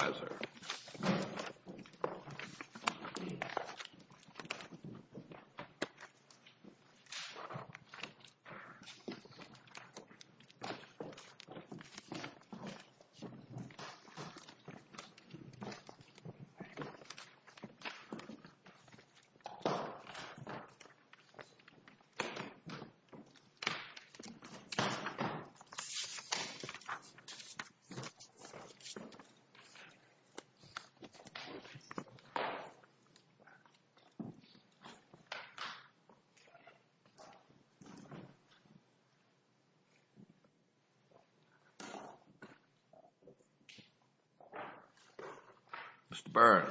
Mr. Burns.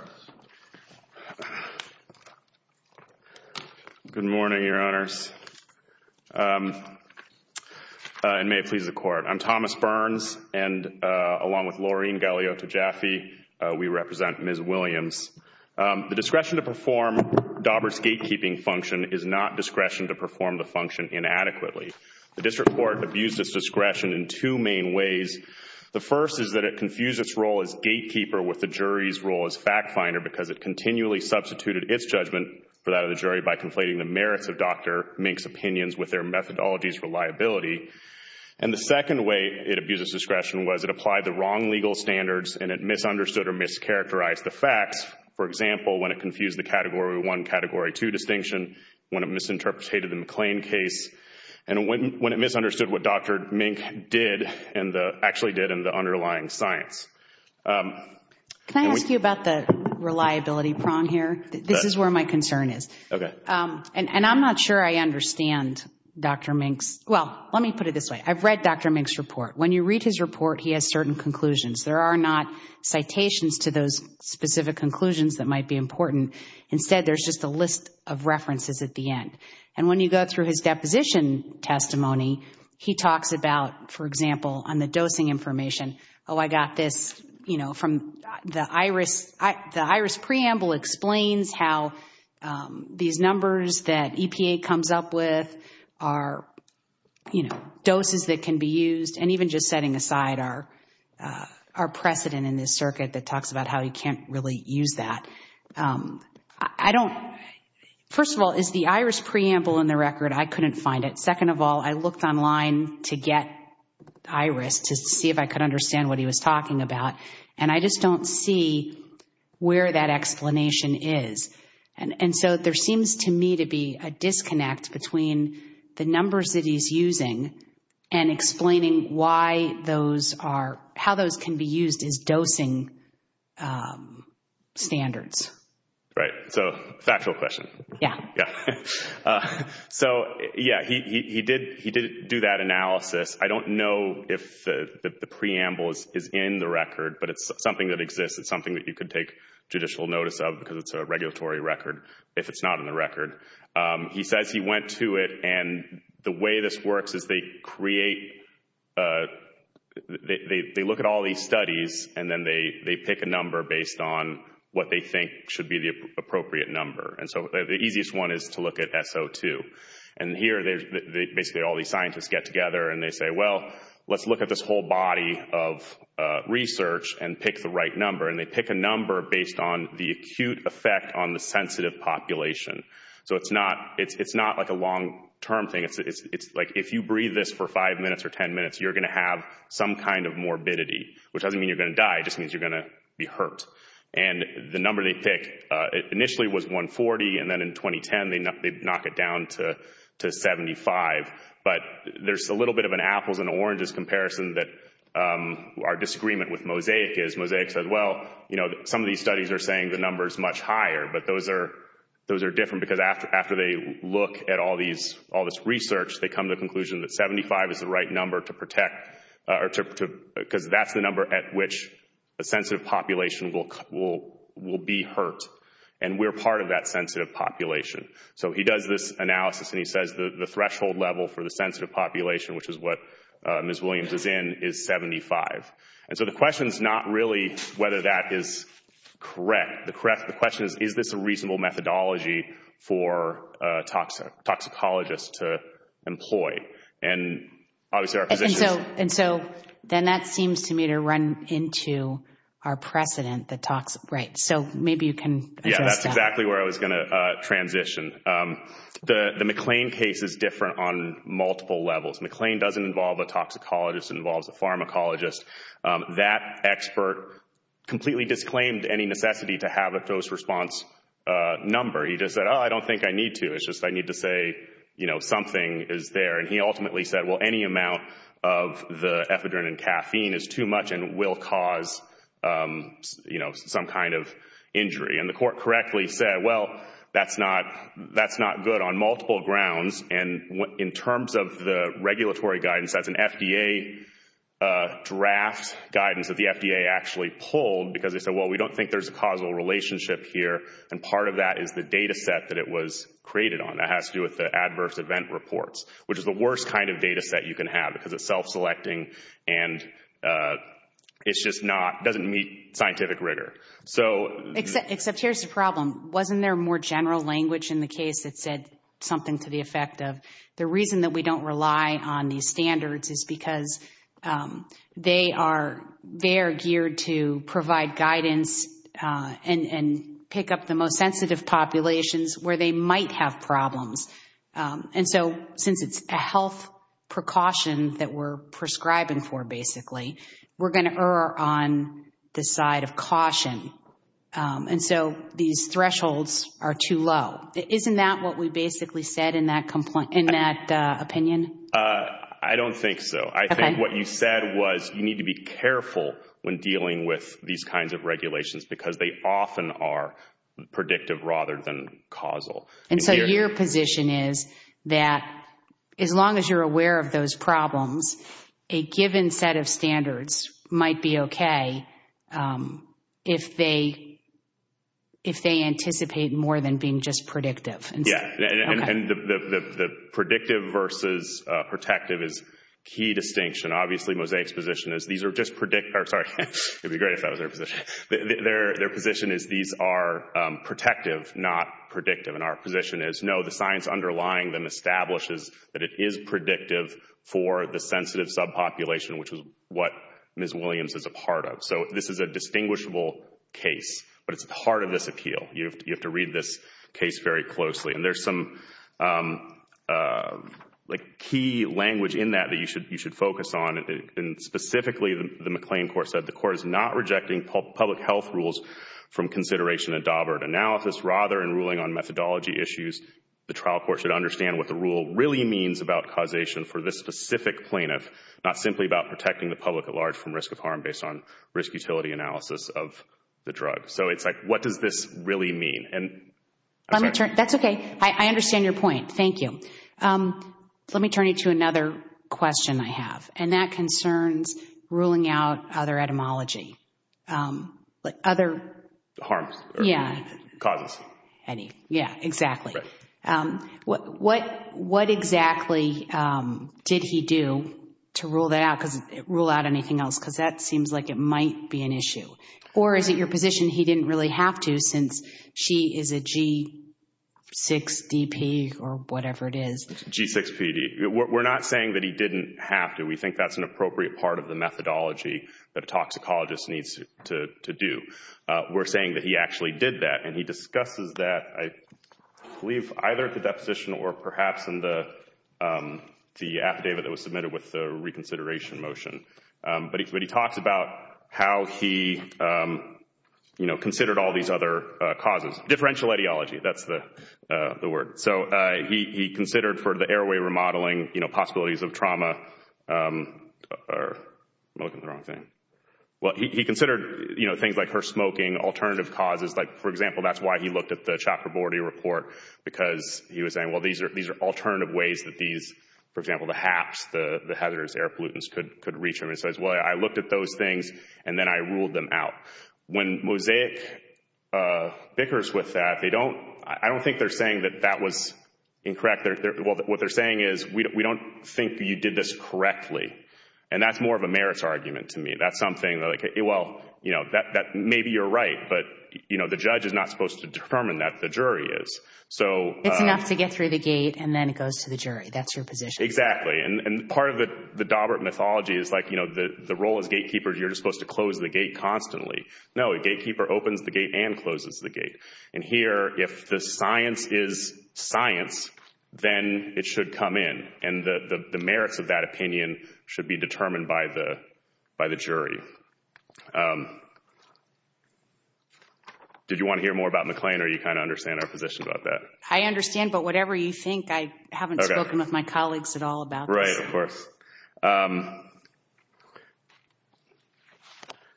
Good morning, Your Honors. And may it please the Court, I'm Thomas Burns and, along with Laureen Galeota Jaffe, we represent Ms. Williams. The discretion to perform Daubert's gatekeeping function is not discretion to perform the function inadequately. The District Court abused its discretion in two main ways. The first is that it confused its role as gatekeeper with the jury's role as fact finder because it continually substituted its judgment for that of the jury by conflating the merits of Dr. Mink's opinions with their discretion was it applied the wrong legal standards and it misunderstood or mischaracterized the facts. For example, when it confused the Category 1, Category 2 distinction, when it misinterpreted the McLean case, and when it misunderstood what Dr. Mink did and actually did in the underlying science. Can I ask you about the reliability prong here? This is where my concern is. And I'm not sure I understand Dr. Mink's, well, let me put it this way. I've read Dr. Mink's report. When you read his report, he has certain conclusions. There are not citations to those specific conclusions that might be important. Instead, there's just a list of references at the end. And when you go through his deposition testimony, he talks about, for example, on the dosing information, oh, I got this from the IRIS. The IRIS preamble explains how these numbers that EPA comes up with are doses that can be used. And even just setting aside our precedent in this circuit that talks about how you can't really use that. First of all, is the IRIS preamble in the record? I couldn't find it. Second of all, I looked online to get IRIS to see if I could understand what he was talking about. And I just don't see where that explanation is. And so there seems to me to be a disconnect between the numbers that he's using and explaining why those are, how those can be used as dosing standards. Right. So, factual question. Yeah. Yeah. So, yeah, he did do that analysis. I don't know if the preamble is in the record, but it's something that exists. It's something that you could take judicial notice of because it's a regulatory record. If it's not in the record, he says he went to it. And the way this works is they create, they look at all these studies and then they pick a number based on what they think should be the appropriate number. And so the easiest one is to look at SO2. And here, basically all these scientists get together and they say, well, let's look at this whole body of research and pick the right number. And they pick a number based on the acute effect on the sensitive population. So it's not like a long-term thing. It's like if you breathe this for five minutes or ten minutes, you're going to have some kind of morbidity, which doesn't mean you're going to die. It just means you're going to be hurt. And the number they pick initially was 140. And then in 2010, they knock it down to 75. But there's a little bit of an apples and oranges comparison that our disagreement with Mosaic is. Mosaic says, well, some of these studies are saying the number is much higher. But those are different because after they look at all this research, they come to the conclusion that 75 is the right number to protect because that's the number at which a sensitive population will be hurt. And we're part of that sensitive population. So he does this analysis, and he says the threshold level for the sensitive population, which is what Ms. Williams is in, is 75. And so the question is not really whether that is correct. The question is, is this a reasonable methodology for toxicologists to employ? And obviously, our position is— And so then that seems to me to run into our precedent, the toxic—right. So maybe you can address that. That's exactly where I was going to transition. The McLean case is different on multiple levels. McLean doesn't involve a toxicologist. It involves a pharmacologist. That expert completely disclaimed any necessity to have a dose-response number. He just said, oh, I don't think I need to. It's just I need to say something is there. And he ultimately said, well, any amount of the ephedrine and caffeine is too much and will cause some kind of injury. And the court correctly said, well, that's not good on multiple grounds. And in terms of the regulatory guidance, that's an FDA draft guidance that the FDA actually pulled because they said, well, we don't think there's a causal relationship here. And part of that is the data set that it was created on. That has to do with the adverse event reports, which is the worst kind of data set you can have because it's self-selecting, and it's just not—doesn't meet scientific rigor. So— Except here's the problem. Wasn't there more general language in the case that said something to the effect of the reason that we don't rely on these standards is because they are geared to provide guidance and pick up the most sensitive populations where they might have problems. And so since it's a health precaution that we're prescribing for, basically, we're going to err on the side of caution. And so these thresholds are too low. Isn't that what we basically said in that opinion? I don't think so. I think what you said was you need to be careful when dealing with these kinds of regulations because they often are predictive rather than causal. And so your position is that as long as you're aware of those problems, a given set of standards, might be okay if they anticipate more than being just predictive. Yeah. And the predictive versus protective is key distinction. Obviously, Mosaic's position is these are just—sorry, it would be great if that was their position. Their position is these are protective, not predictive. And our position is, no, the science underlying them establishes that it is predictive for the sensitive subpopulation, which is what Ms. Williams is a part of. So this is a distinguishable case, but it's part of this appeal. You have to read this case very closely. And there's some key language in that that you should focus on. And specifically, the McLean court said the court is not rejecting public health rules from consideration at means about causation for this specific plaintiff, not simply about protecting the public at large from risk of harm based on risk-utility analysis of the drug. So it's like, what does this really mean? That's okay. I understand your point. Thank you. Let me turn you to another question I have, and that concerns ruling out other etymology, like other— Harms. Yeah. Causes. Yeah, exactly. What exactly did he do to rule out anything else? Because that seems like it might be an issue. Or is it your position he didn't really have to, since she is a G6DP or whatever it is? G6PD. We're not saying that he didn't have to. We think that's an appropriate part of the methodology that a toxicologist needs to do. We're saying that he actually did that, and he discusses that, I believe, either at the deposition or perhaps in the affidavit that was submitted with the reconsideration motion. But he talks about how he considered all these other causes. Differential ideology, that's the word. So he considered for the airway remodeling, you know, possibilities of trauma—I'm looking at the wrong thing. Well, he considered, you know, things like her smoking, alternative causes. Like, for example, that's why he looked at the Chakraborty report, because he was saying, well, these are alternative ways that these—for example, the HAPs, the hazardous air pollutants, could reach him. He says, well, I looked at those things, and then I ruled them out. When Mosaic bickers with that, they don't—I don't think they're saying that that was incorrect. What they're saying is, we don't think you did this correctly. And that's more of a merits argument to me. That's something like, well, you know, maybe you're right, but, you know, the judge is not supposed to determine that. The jury is. It's enough to get through the gate, and then it goes to the jury. That's your position. Exactly. And part of the Dawbert mythology is, like, you know, the role as gatekeeper, you're just supposed to close the gate constantly. No, a gatekeeper opens the gate and closes the gate. And here, if the science is science, then it should come in. And the merits of that opinion should be determined by the jury. Did you want to hear more about McClain, or do you kind of understand our position about that? I understand, but whatever you think, I haven't spoken with my colleagues at all about this. Right, of course.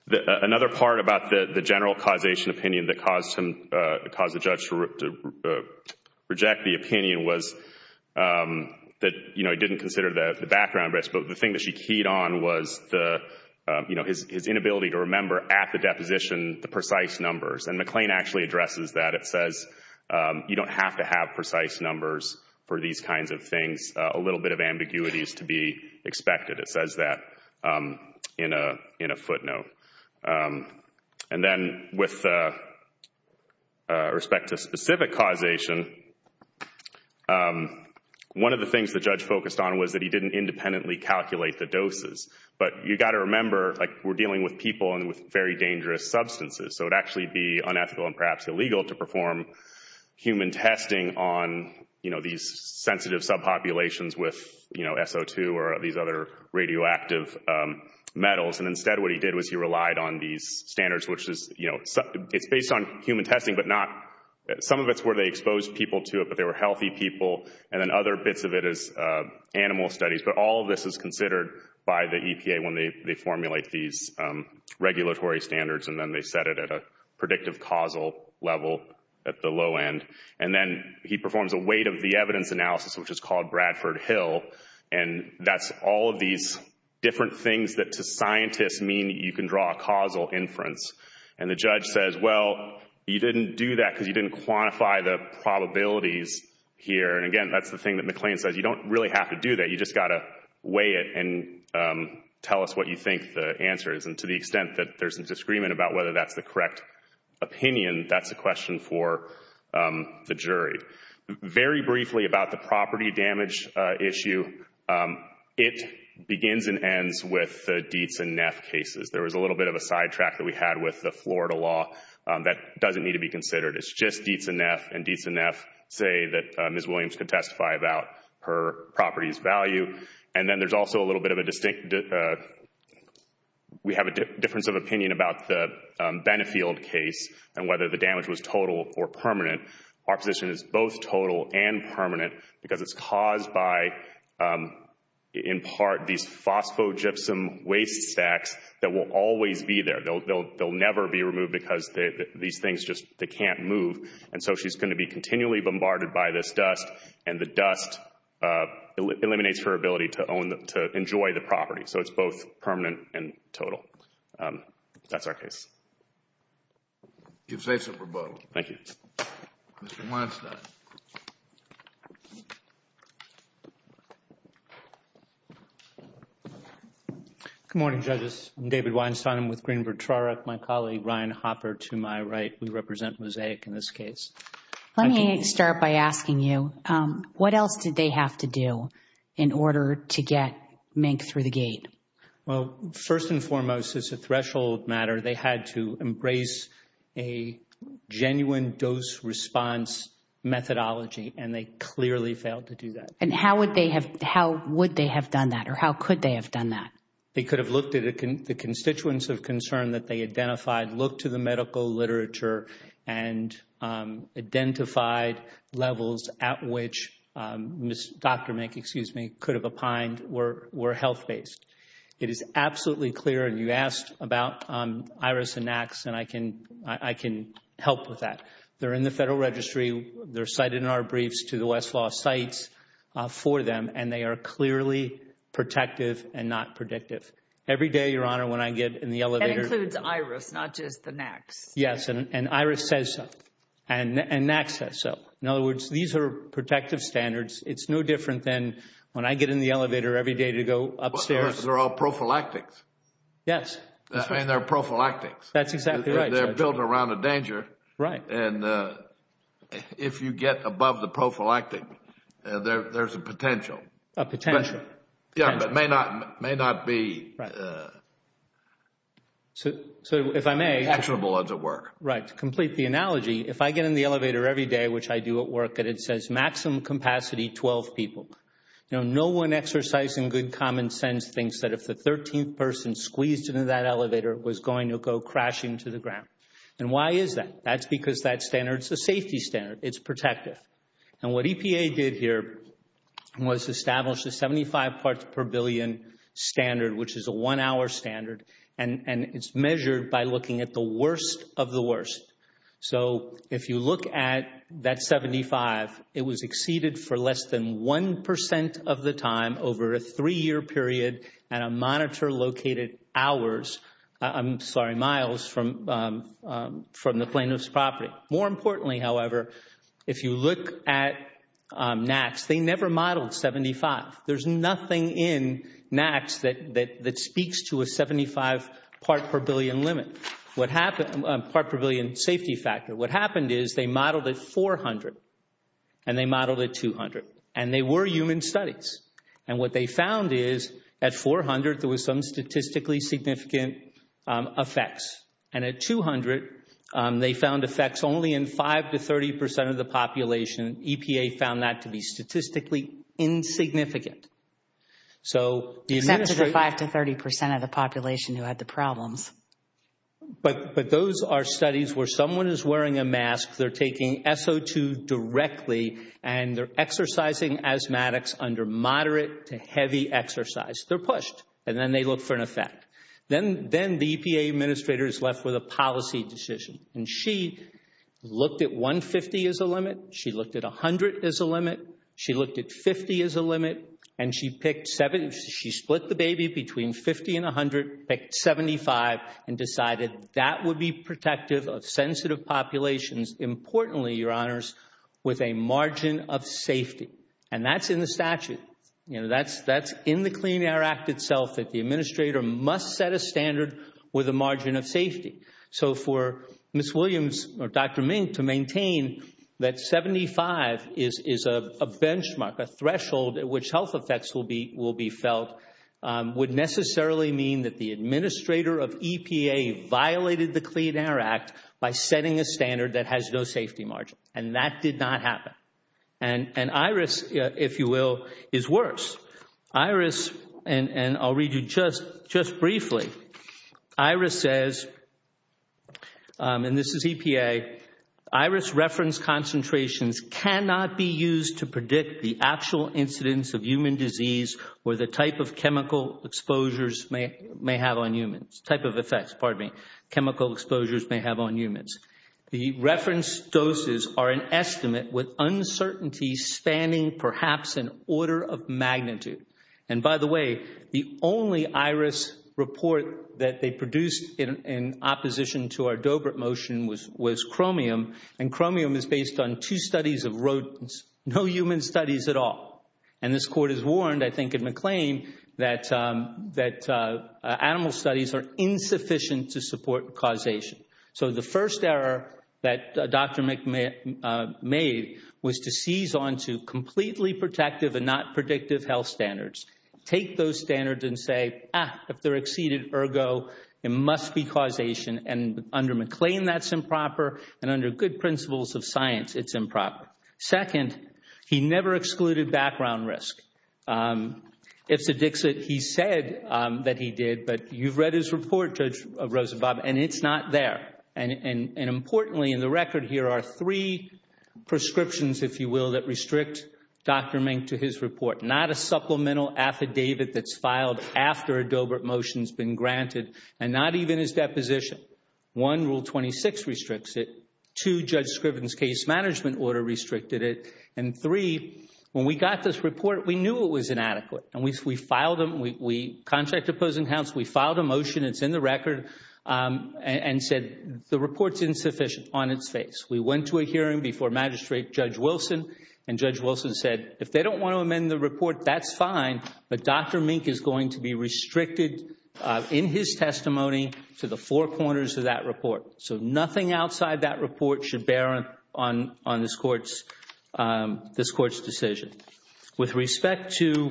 Another part about the general causation opinion that caused him—caused the judge to reject the opinion was that, you know, he didn't consider the background risk, but the thing that she keyed on was his inability to remember at the deposition the precise numbers. And McClain actually addresses that. It says you don't have to have precise numbers for these kinds of things. A little bit of ambiguity is to be expected. It says that in a footnote. And then with respect to specific causation, one of the things the judge focused on was that he didn't independently calculate the doses. But you've got to remember, like, we're dealing with people and with very dangerous substances, so it would actually be unethical and perhaps illegal to perform human testing on, you know, these sensitive subpopulations with, you know, SO2 or these other radioactive metals. And instead what he did was he relied on these standards, which is, you know, it's based on human testing, but not—some of it's where they exposed people to it, but they were healthy people, and then other bits of it is animal studies. But all of this is considered by the EPA when they formulate these regulatory standards, and then they set it at a predictive causal level at the low end. And then he performs a weight of the evidence analysis, which is called Bradford Hill, and that's all of these different things that to scientists mean that you can draw a causal inference. And the judge says, well, you didn't do that because you didn't quantify the probabilities here. And again, that's the thing that McLean says. You don't really have to do that. You just got to weigh it and tell us what you think the answer is. And to the extent that there's a disagreement about whether that's the correct opinion, that's a question for the jury. Very briefly about the property damage issue, it begins and ends with the Dietz and Neff cases. There was a little bit of a sidetrack that we had with the Florida law. That doesn't need to be considered. It's just Dietz and Neff, and Dietz and Neff say that Ms. Williams could testify about her property's value. And then there's also a little bit of a distinct—we have a difference of opinion about the Benefield case and whether the damage was total or permanent. Our position is both total and permanent because it's caused by, in part, these phosphogypsum waste stacks that will always be there. They'll never be removed because these things just can't move. And so she's going to be continually bombarded by this dust, and the dust eliminates her ability to enjoy the property. So it's both permanent and total. That's our case. You've faced a rebuttal. Thank you. Mr. Weinstein. Good morning, judges. I'm David Weinstein. I'm with Greenberg-Trarick. My colleague, Ryan Hopper, to my right, we represent Mosaic in this case. Let me start by asking you, what else did they have to do in order to get Mink through the gate? Well, first and foremost, as a threshold matter, they had to embrace a genuine dose-response methodology, and they clearly failed to do that. And how would they have done that, or how could they have done that? They could have looked at the constituents of concern that they identified, looked to medical literature, and identified levels at which Dr. Mink, excuse me, could have opined were health-based. It is absolutely clear, and you asked about IRIS and NACs, and I can help with that. They're in the Federal Registry. They're cited in our briefs to the Westlaw sites for them, and they are clearly protective and not predictive. Every day, Your Honor, when I get in the elevator— NACs. Yes, and IRIS says so, and NACs says so. In other words, these are protective standards. It's no different than when I get in the elevator every day to go upstairs— But they're all prophylactics. Yes. And they're prophylactics. That's exactly right, Judge. They're built around a danger. Right. And if you get above the prophylactic, there's a potential. A potential. Yeah, but it may not be actionable enough. So, if I may— Actionable as at work. Right. To complete the analogy, if I get in the elevator every day, which I do at work, and it says maximum capacity, 12 people, no one exercising good common sense thinks that if the 13th person squeezed into that elevator, it was going to go crashing to the ground. And why is that? That's because that standard is a safety standard. It's protective. And what EPA did here was establish a 75 parts per billion standard, which is a one-hour standard, and it's measured by looking at the worst of the worst. So, if you look at that 75, it was exceeded for less than 1% of the time over a three-year period at a monitor-located hours—I'm sorry, miles—from the plaintiff's property. More importantly, however, if you look at NAAQS, they never modeled 75. There's nothing in NAAQS that speaks to a 75 parts per billion safety factor. What happened is they modeled at 400, and they modeled at 200, and they were human studies. And what they found is at 400, there was some statistically significant effects, and at 200, they found effects only in 5 to 30% of the population. EPA found that to be statistically insignificant. So, the— Except for the 5 to 30% of the population who had the problems. But those are studies where someone is wearing a mask, they're taking SO2 directly, and they're exercising asthmatics under moderate to heavy exercise. They're pushed, and then they look for an effect. Then the EPA administrator is left with a policy decision. And she looked at 150 as a limit. She looked at 100 as a limit. She looked at 50 as a limit. And she picked—she split the baby between 50 and 100, picked 75, and decided that would be protective of sensitive populations, importantly, Your Honors, with a margin of safety. And that's in the statute. You know, that's in the Clean Air Act itself, that the administrator must set a standard with a margin of safety. So, for Ms. Williams or Dr. Mink to maintain that 75 is a benchmark, a threshold at which health effects will be felt, would necessarily mean that the administrator of EPA violated the Clean Air Act by setting a standard that has no safety margin. And that did not happen. And IRIS, if you will, is worse. IRIS—and I'll read you just briefly. IRIS says, and this is EPA, IRIS reference concentrations cannot be used to predict the actual incidence of human disease or the type of chemical exposures may have on humans—type of effects, pardon me, chemical exposures may have on humans. The reference doses are an estimate with uncertainty spanning perhaps an order of magnitude. And, by the way, the only IRIS report that they produced in opposition to our Dobrit motion was chromium, and chromium is based on two studies of rodents, no human studies at all. And this Court has warned, I think, in McLean, that animal studies are insufficient to support causation. So the first error that Dr. Mink made was to seize onto completely protective and not predictive health standards. Take those standards and say, ah, if they're exceeded, ergo, it must be causation. And under McLean, that's improper. And under good principles of science, it's improper. Second, he never excluded background risk. It's a Dixit. He said that he did, but you've read his report, Judge Rosenbaum, and it's not there. And, importantly, in the record here are three prescriptions, if you will, that restrict Dr. Mink to his report, not a supplemental affidavit that's filed after a Dobrit motion has been granted and not even his deposition. One, Rule 26 restricts it. Two, Judge Scriven's case management order restricted it. And three, when we got this report, we knew it was inadequate, and we filed a motion, it's in the record, and said the report's insufficient on its face. We went to a hearing before Magistrate Judge Wilson, and Judge Wilson said if they don't want to amend the report, that's fine, but Dr. Mink is going to be restricted in his testimony to the four corners of that report. So nothing outside that report should bear on this Court's decision. With respect to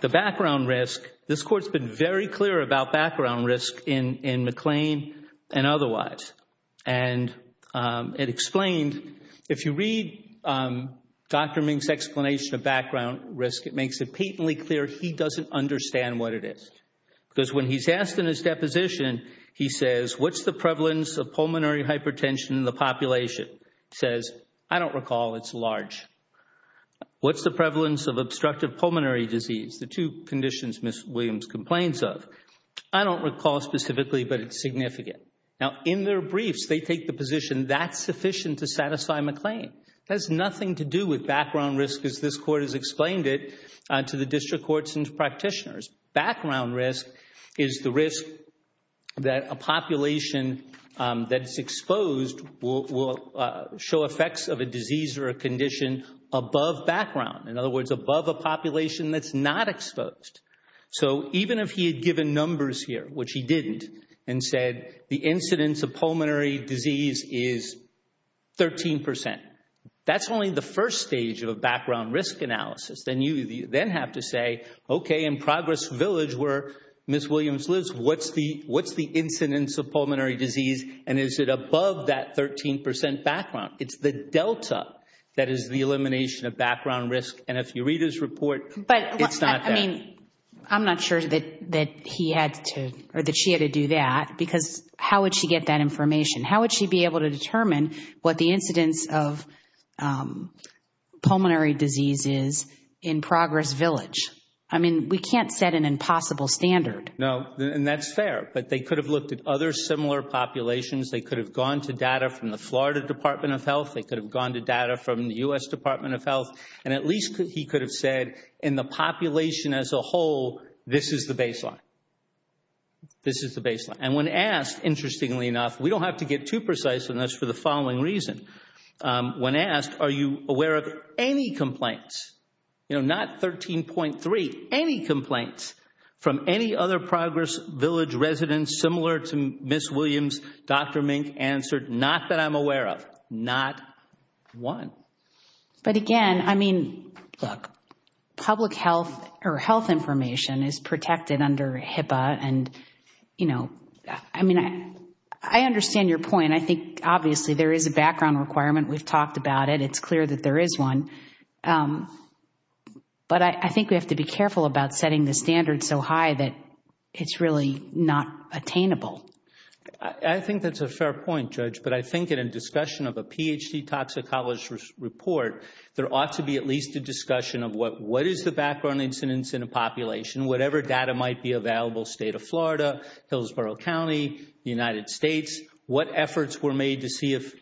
the background risk, this Court's been very clear about background risk in McLean and otherwise. And it explained, if you read Dr. Mink's explanation of background risk, it makes it patently clear he doesn't understand what it is. Because when he's asked in his deposition, he says, what's the prevalence of pulmonary hypertension in the population? He says, I don't recall, it's large. What's the prevalence of obstructive pulmonary disease? The two conditions Ms. Williams complains of. I don't recall specifically, but it's significant. Now, in their briefs, they take the position that's sufficient to satisfy McLean. It has nothing to do with background risk as this Court has explained it to the district courts and practitioners. Background risk is the risk that a population that's exposed will show effects of a disease or a condition above background. In other words, above a population that's not exposed. So even if he had given numbers here, which he didn't, and said the incidence of pulmonary disease is 13%, that's only the first stage of a background risk analysis. Then you then have to say, okay, in Progress Village where Ms. Williams lives, what's the incidence of pulmonary disease and is it above that 13% background? It's the delta that is the elimination of background risk. And if you read his report, it's not that. I'm not sure that he had to or that she had to do that, because how would she get that information? How would she be able to determine what the incidence of pulmonary disease is in Progress Village? I mean, we can't set an impossible standard. No, and that's fair. But they could have looked at other similar populations. They could have gone to data from the Florida Department of Health. They could have gone to data from the U.S. Department of Health. And at least he could have said, in the population as a whole, this is the baseline. This is the baseline. And when asked, interestingly enough, we don't have to get too precise, and that's for the following reason. When asked, are you aware of any complaints, not 13.3, any complaints from any other Progress Village residents similar to Ms. Williams, Dr. Mink answered, not that I'm aware of, not one. But, again, I mean, public health or health information is protected under HIPAA. And, you know, I mean, I understand your point. I think, obviously, there is a background requirement. We've talked about it. It's clear that there is one. But I think we have to be careful about setting the standard so high that it's really not attainable. I think that's a fair point, Judge. But I think in a discussion of a Ph.D. toxicologist's report, there ought to be at least a discussion of what is the background incidence in a population, whatever data might be available, state of Florida, Hillsborough County, United States, what efforts were made to see if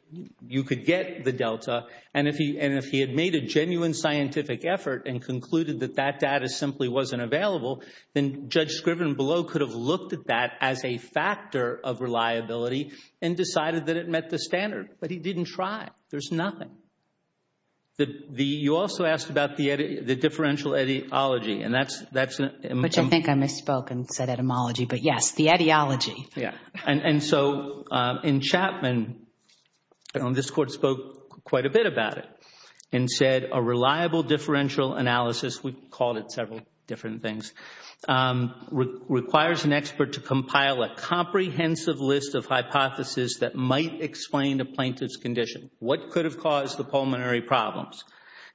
you could get the delta. And if he had made a genuine scientific effort and concluded that that data simply wasn't available, then Judge Scriven below could have looked at that as a factor of reliability and decided that it met the standard. But he didn't try. There's nothing. You also asked about the differential etymology. Which I think I misspoke and said etymology. But, yes, the etymology. And so in Chapman, this Court spoke quite a bit about it and said a reliable differential analysis, we called it several different things, requires an expert to compile a comprehensive list of hypotheses that might explain a plaintiff's condition. What could have caused the pulmonary problems?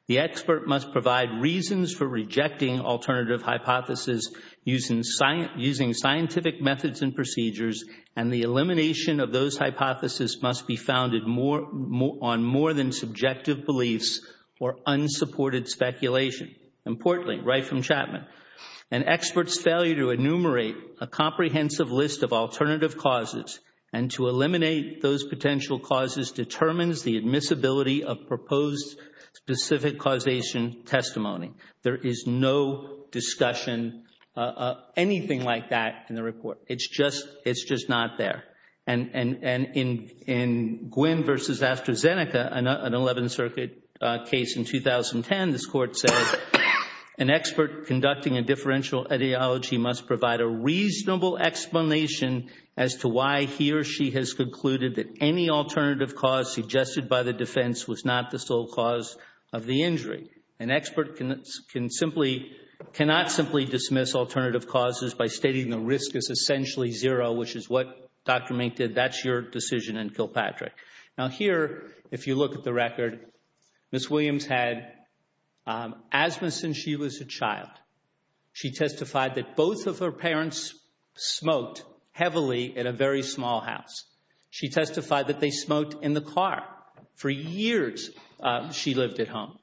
The expert must provide reasons for rejecting alternative hypotheses using scientific methods and procedures, and the elimination of those hypotheses must be founded on more than subjective beliefs or unsupported speculation. Importantly, right from Chapman, an expert's failure to enumerate a comprehensive list of alternative causes and to eliminate those potential causes determines the admissibility of proposed specific causation testimony. There is no discussion of anything like that in the report. It's just not there. And in Gwyn versus AstraZeneca, an 11th Circuit case in 2010, this Court said an expert conducting a differential etymology must provide a reasonable explanation as to why he or she has concluded that any alternative cause suggested by the defense was not the sole cause of the injury. An expert cannot simply dismiss alternative causes by stating the risk is essentially zero, which is what Dr. Mink did. That's your decision in Kilpatrick. Now here, if you look at the record, Ms. Williams had asthma since she was a child. She testified that both of her parents smoked heavily in a very small house. She testified that they smoked in the car. For years she lived at home.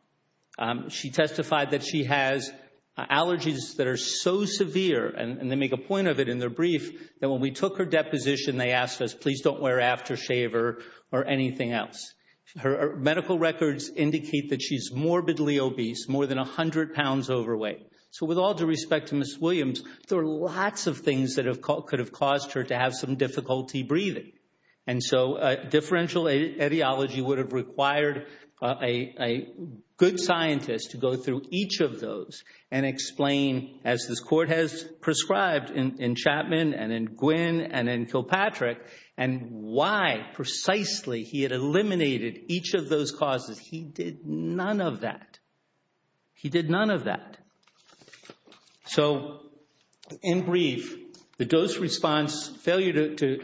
She testified that she has allergies that are so severe, and they make a point of it in their brief that when we took her deposition, they asked us, please don't wear aftershave or anything else. Her medical records indicate that she's morbidly obese, more than 100 pounds overweight. So with all due respect to Ms. Williams, there are lots of things that could have caused her to have some difficulty breathing. And so differential etymology would have required a good scientist to go through each of those and explain, as this court has prescribed in Chapman and in Gwinn and in Kilpatrick, and why precisely he had eliminated each of those causes. He did none of that. He did none of that. So in brief, the dose response, failure to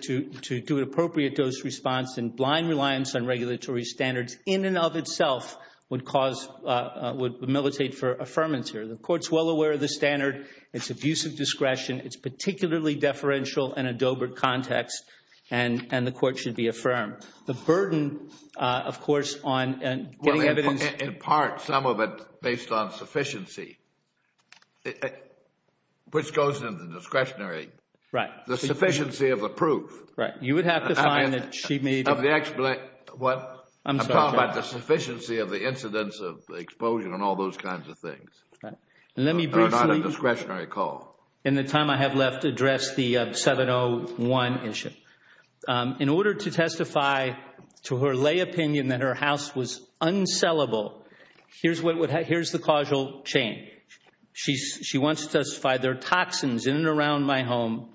do an appropriate dose response and blind reliance on regulatory standards in and of itself would cause, would militate for affirmance here. The court's well aware of the standard. It's abuse of discretion. It's particularly deferential in a Doebert context, and the court should be affirmed. The burden, of course, on getting evidence. Well, in part, some of it based on sufficiency, which goes into the discretionary. Right. The sufficiency of the proof. Right. I'm sorry. I'm talking about the sufficiency of the incidence of the exposure and all those kinds of things. Right. Let me briefly. Or not a discretionary call. In the time I have left to address the 701 issue. In order to testify to her lay opinion that her house was unsellable, here's the causal chain. She wants to testify there are toxins in and around my home.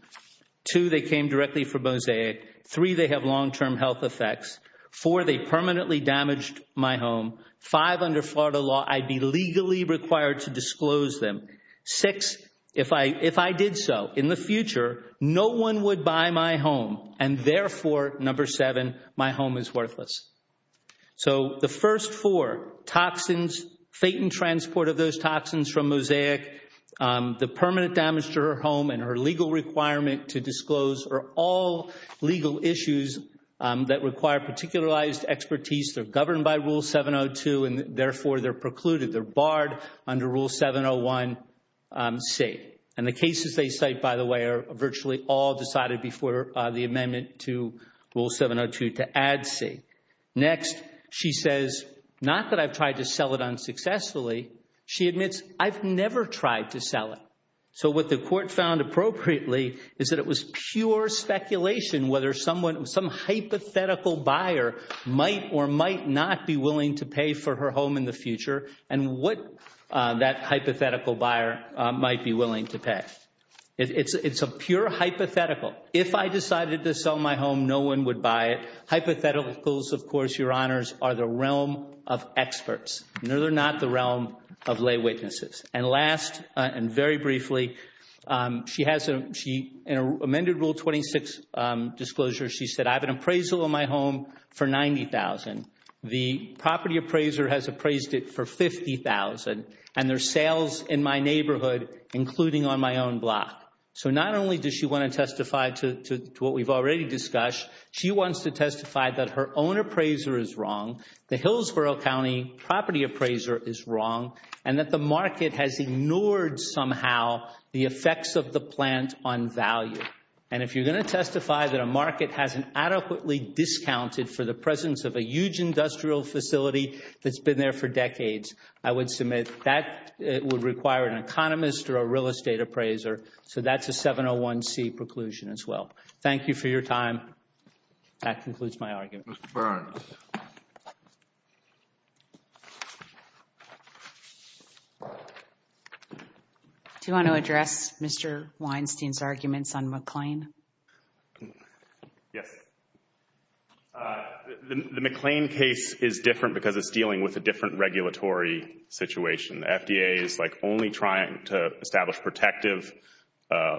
Two, they came directly from mosaic. Three, they have long-term health effects. Four, they permanently damaged my home. Five, under Florida law, I'd be legally required to disclose them. Six, if I did so in the future, no one would buy my home. And therefore, number seven, my home is worthless. So the first four, toxins, fate and transport of those toxins from mosaic, the permanent damage to her home and her legal requirement to disclose are all legal issues that require particularized expertise. They're governed by Rule 702, and therefore, they're precluded. They're barred under Rule 701C. And the cases they cite, by the way, are virtually all decided before the amendment to Rule 702 to add C. Next, she says, not that I've tried to sell it unsuccessfully. She admits I've never tried to sell it. So what the court found appropriately is that it was pure speculation whether someone, some hypothetical buyer might or might not be willing to pay for her home in the future and what that hypothetical buyer might be willing to pay. It's a pure hypothetical. If I decided to sell my home, no one would buy it. Hypotheticals, of course, Your Honors, are the realm of experts. They're not the realm of lay witnesses. And last, and very briefly, in an amended Rule 26 disclosure, she said, I have an appraisal on my home for $90,000. The property appraiser has appraised it for $50,000, and there's sales in my neighborhood, including on my own block. So not only does she want to testify to what we've already discussed, she wants to testify that her own appraiser is wrong, the Hillsborough County property appraiser is wrong, and that the market has ignored somehow the effects of the plant on value. And if you're going to testify that a market hasn't adequately discounted for the presence of a huge industrial facility that's been there for decades, I would submit that it would require an economist or a real estate appraiser. So that's a 701C preclusion as well. Thank you for your time. That concludes my argument. Ms. Burns. Do you want to address Mr. Weinstein's arguments on McLean? Yes. The McLean case is different because it's dealing with a different regulatory situation. The FDA is, like, only trying to establish protective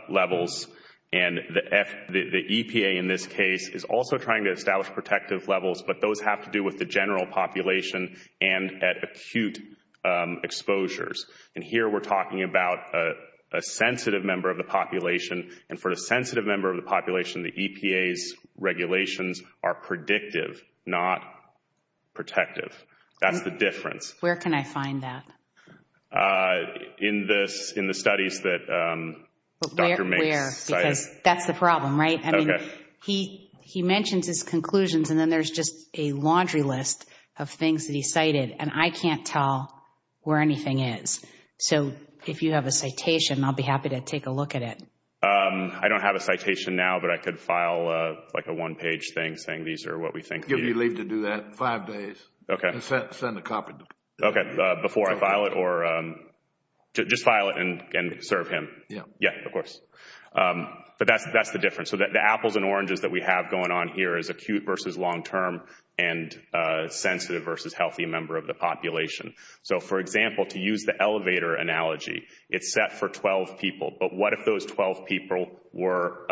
levels, and the EPA in this case is also trying to establish protective levels, but those have to do with the general population and at acute exposures. And here we're talking about a sensitive member of the population, and for the sensitive member of the population, the EPA's regulations are predictive, not protective. That's the difference. Where can I find that? In the studies that Dr. Mase cited. Where? Because that's the problem, right? Okay. I mean, he mentions his conclusions, and then there's just a laundry list of things that he cited, and I can't tell where anything is. So if you have a citation, I'll be happy to take a look at it. I don't have a citation now, but I could file, like, a one-page thing saying these are what we think. Give me leave to do that in five days. Okay. And send a copy. Okay, before I file it, or just file it and serve him. Yeah. Yeah, of course. But that's the difference. So the apples and oranges that we have going on here is acute versus long-term and sensitive versus healthy member of the population. So, for example, to use the elevator analogy, it's set for 12 people, but what if those 12 people were,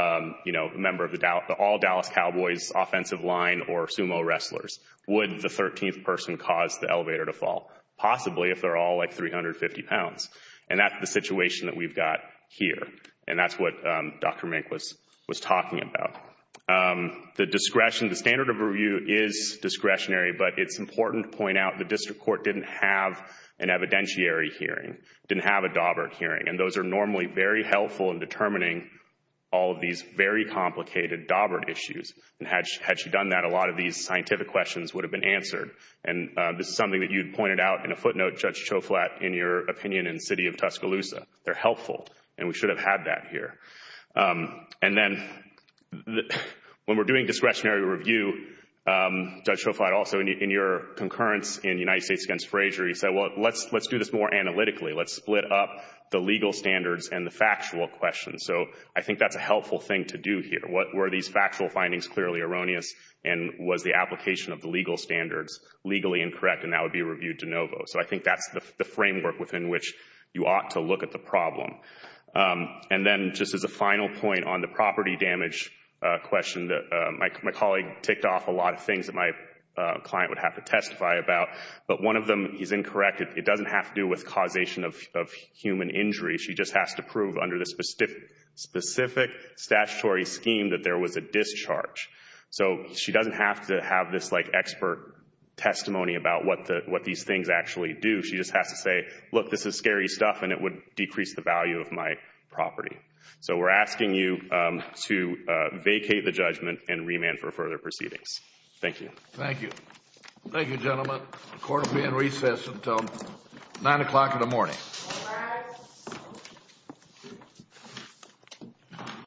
you know, a member of the all-Dallas Cowboys offensive line or sumo wrestlers? Would the 13th person cause the elevator to fall? Possibly if they're all, like, 350 pounds. And that's the situation that we've got here, and that's what Dr. Mink was talking about. The discretion, the standard of review is discretionary, but it's important to point out the district court didn't have an evidentiary hearing, didn't have a Daubert hearing, and those are normally very helpful in determining all of these very complicated Daubert issues. And had she done that, a lot of these scientific questions would have been answered. And this is something that you had pointed out in a footnote, Judge Choflat, in your opinion in the city of Tuscaloosa. They're helpful, and we should have had that here. And then when we're doing discretionary review, Judge Choflat also in your concurrence in the United States against Fraser, he said, well, let's do this more analytically. Let's split up the legal standards and the factual questions. So I think that's a helpful thing to do here. What were these factual findings clearly erroneous, and was the application of the legal standards legally incorrect, and that would be reviewed de novo. So I think that's the framework within which you ought to look at the problem. And then just as a final point on the property damage question, my colleague ticked off a lot of things that my client would have to testify about, but one of them is incorrect. It doesn't have to do with causation of human injury. She just has to prove under the specific statutory scheme that there was a discharge. So she doesn't have to have this like expert testimony about what these things actually do. She just has to say, look, this is scary stuff, and it would decrease the value of my property. So we're asking you to vacate the judgment and remand for further proceedings. Thank you. Thank you. Thank you, gentlemen. The court will be in recess until 9 o'clock in the morning. All rise.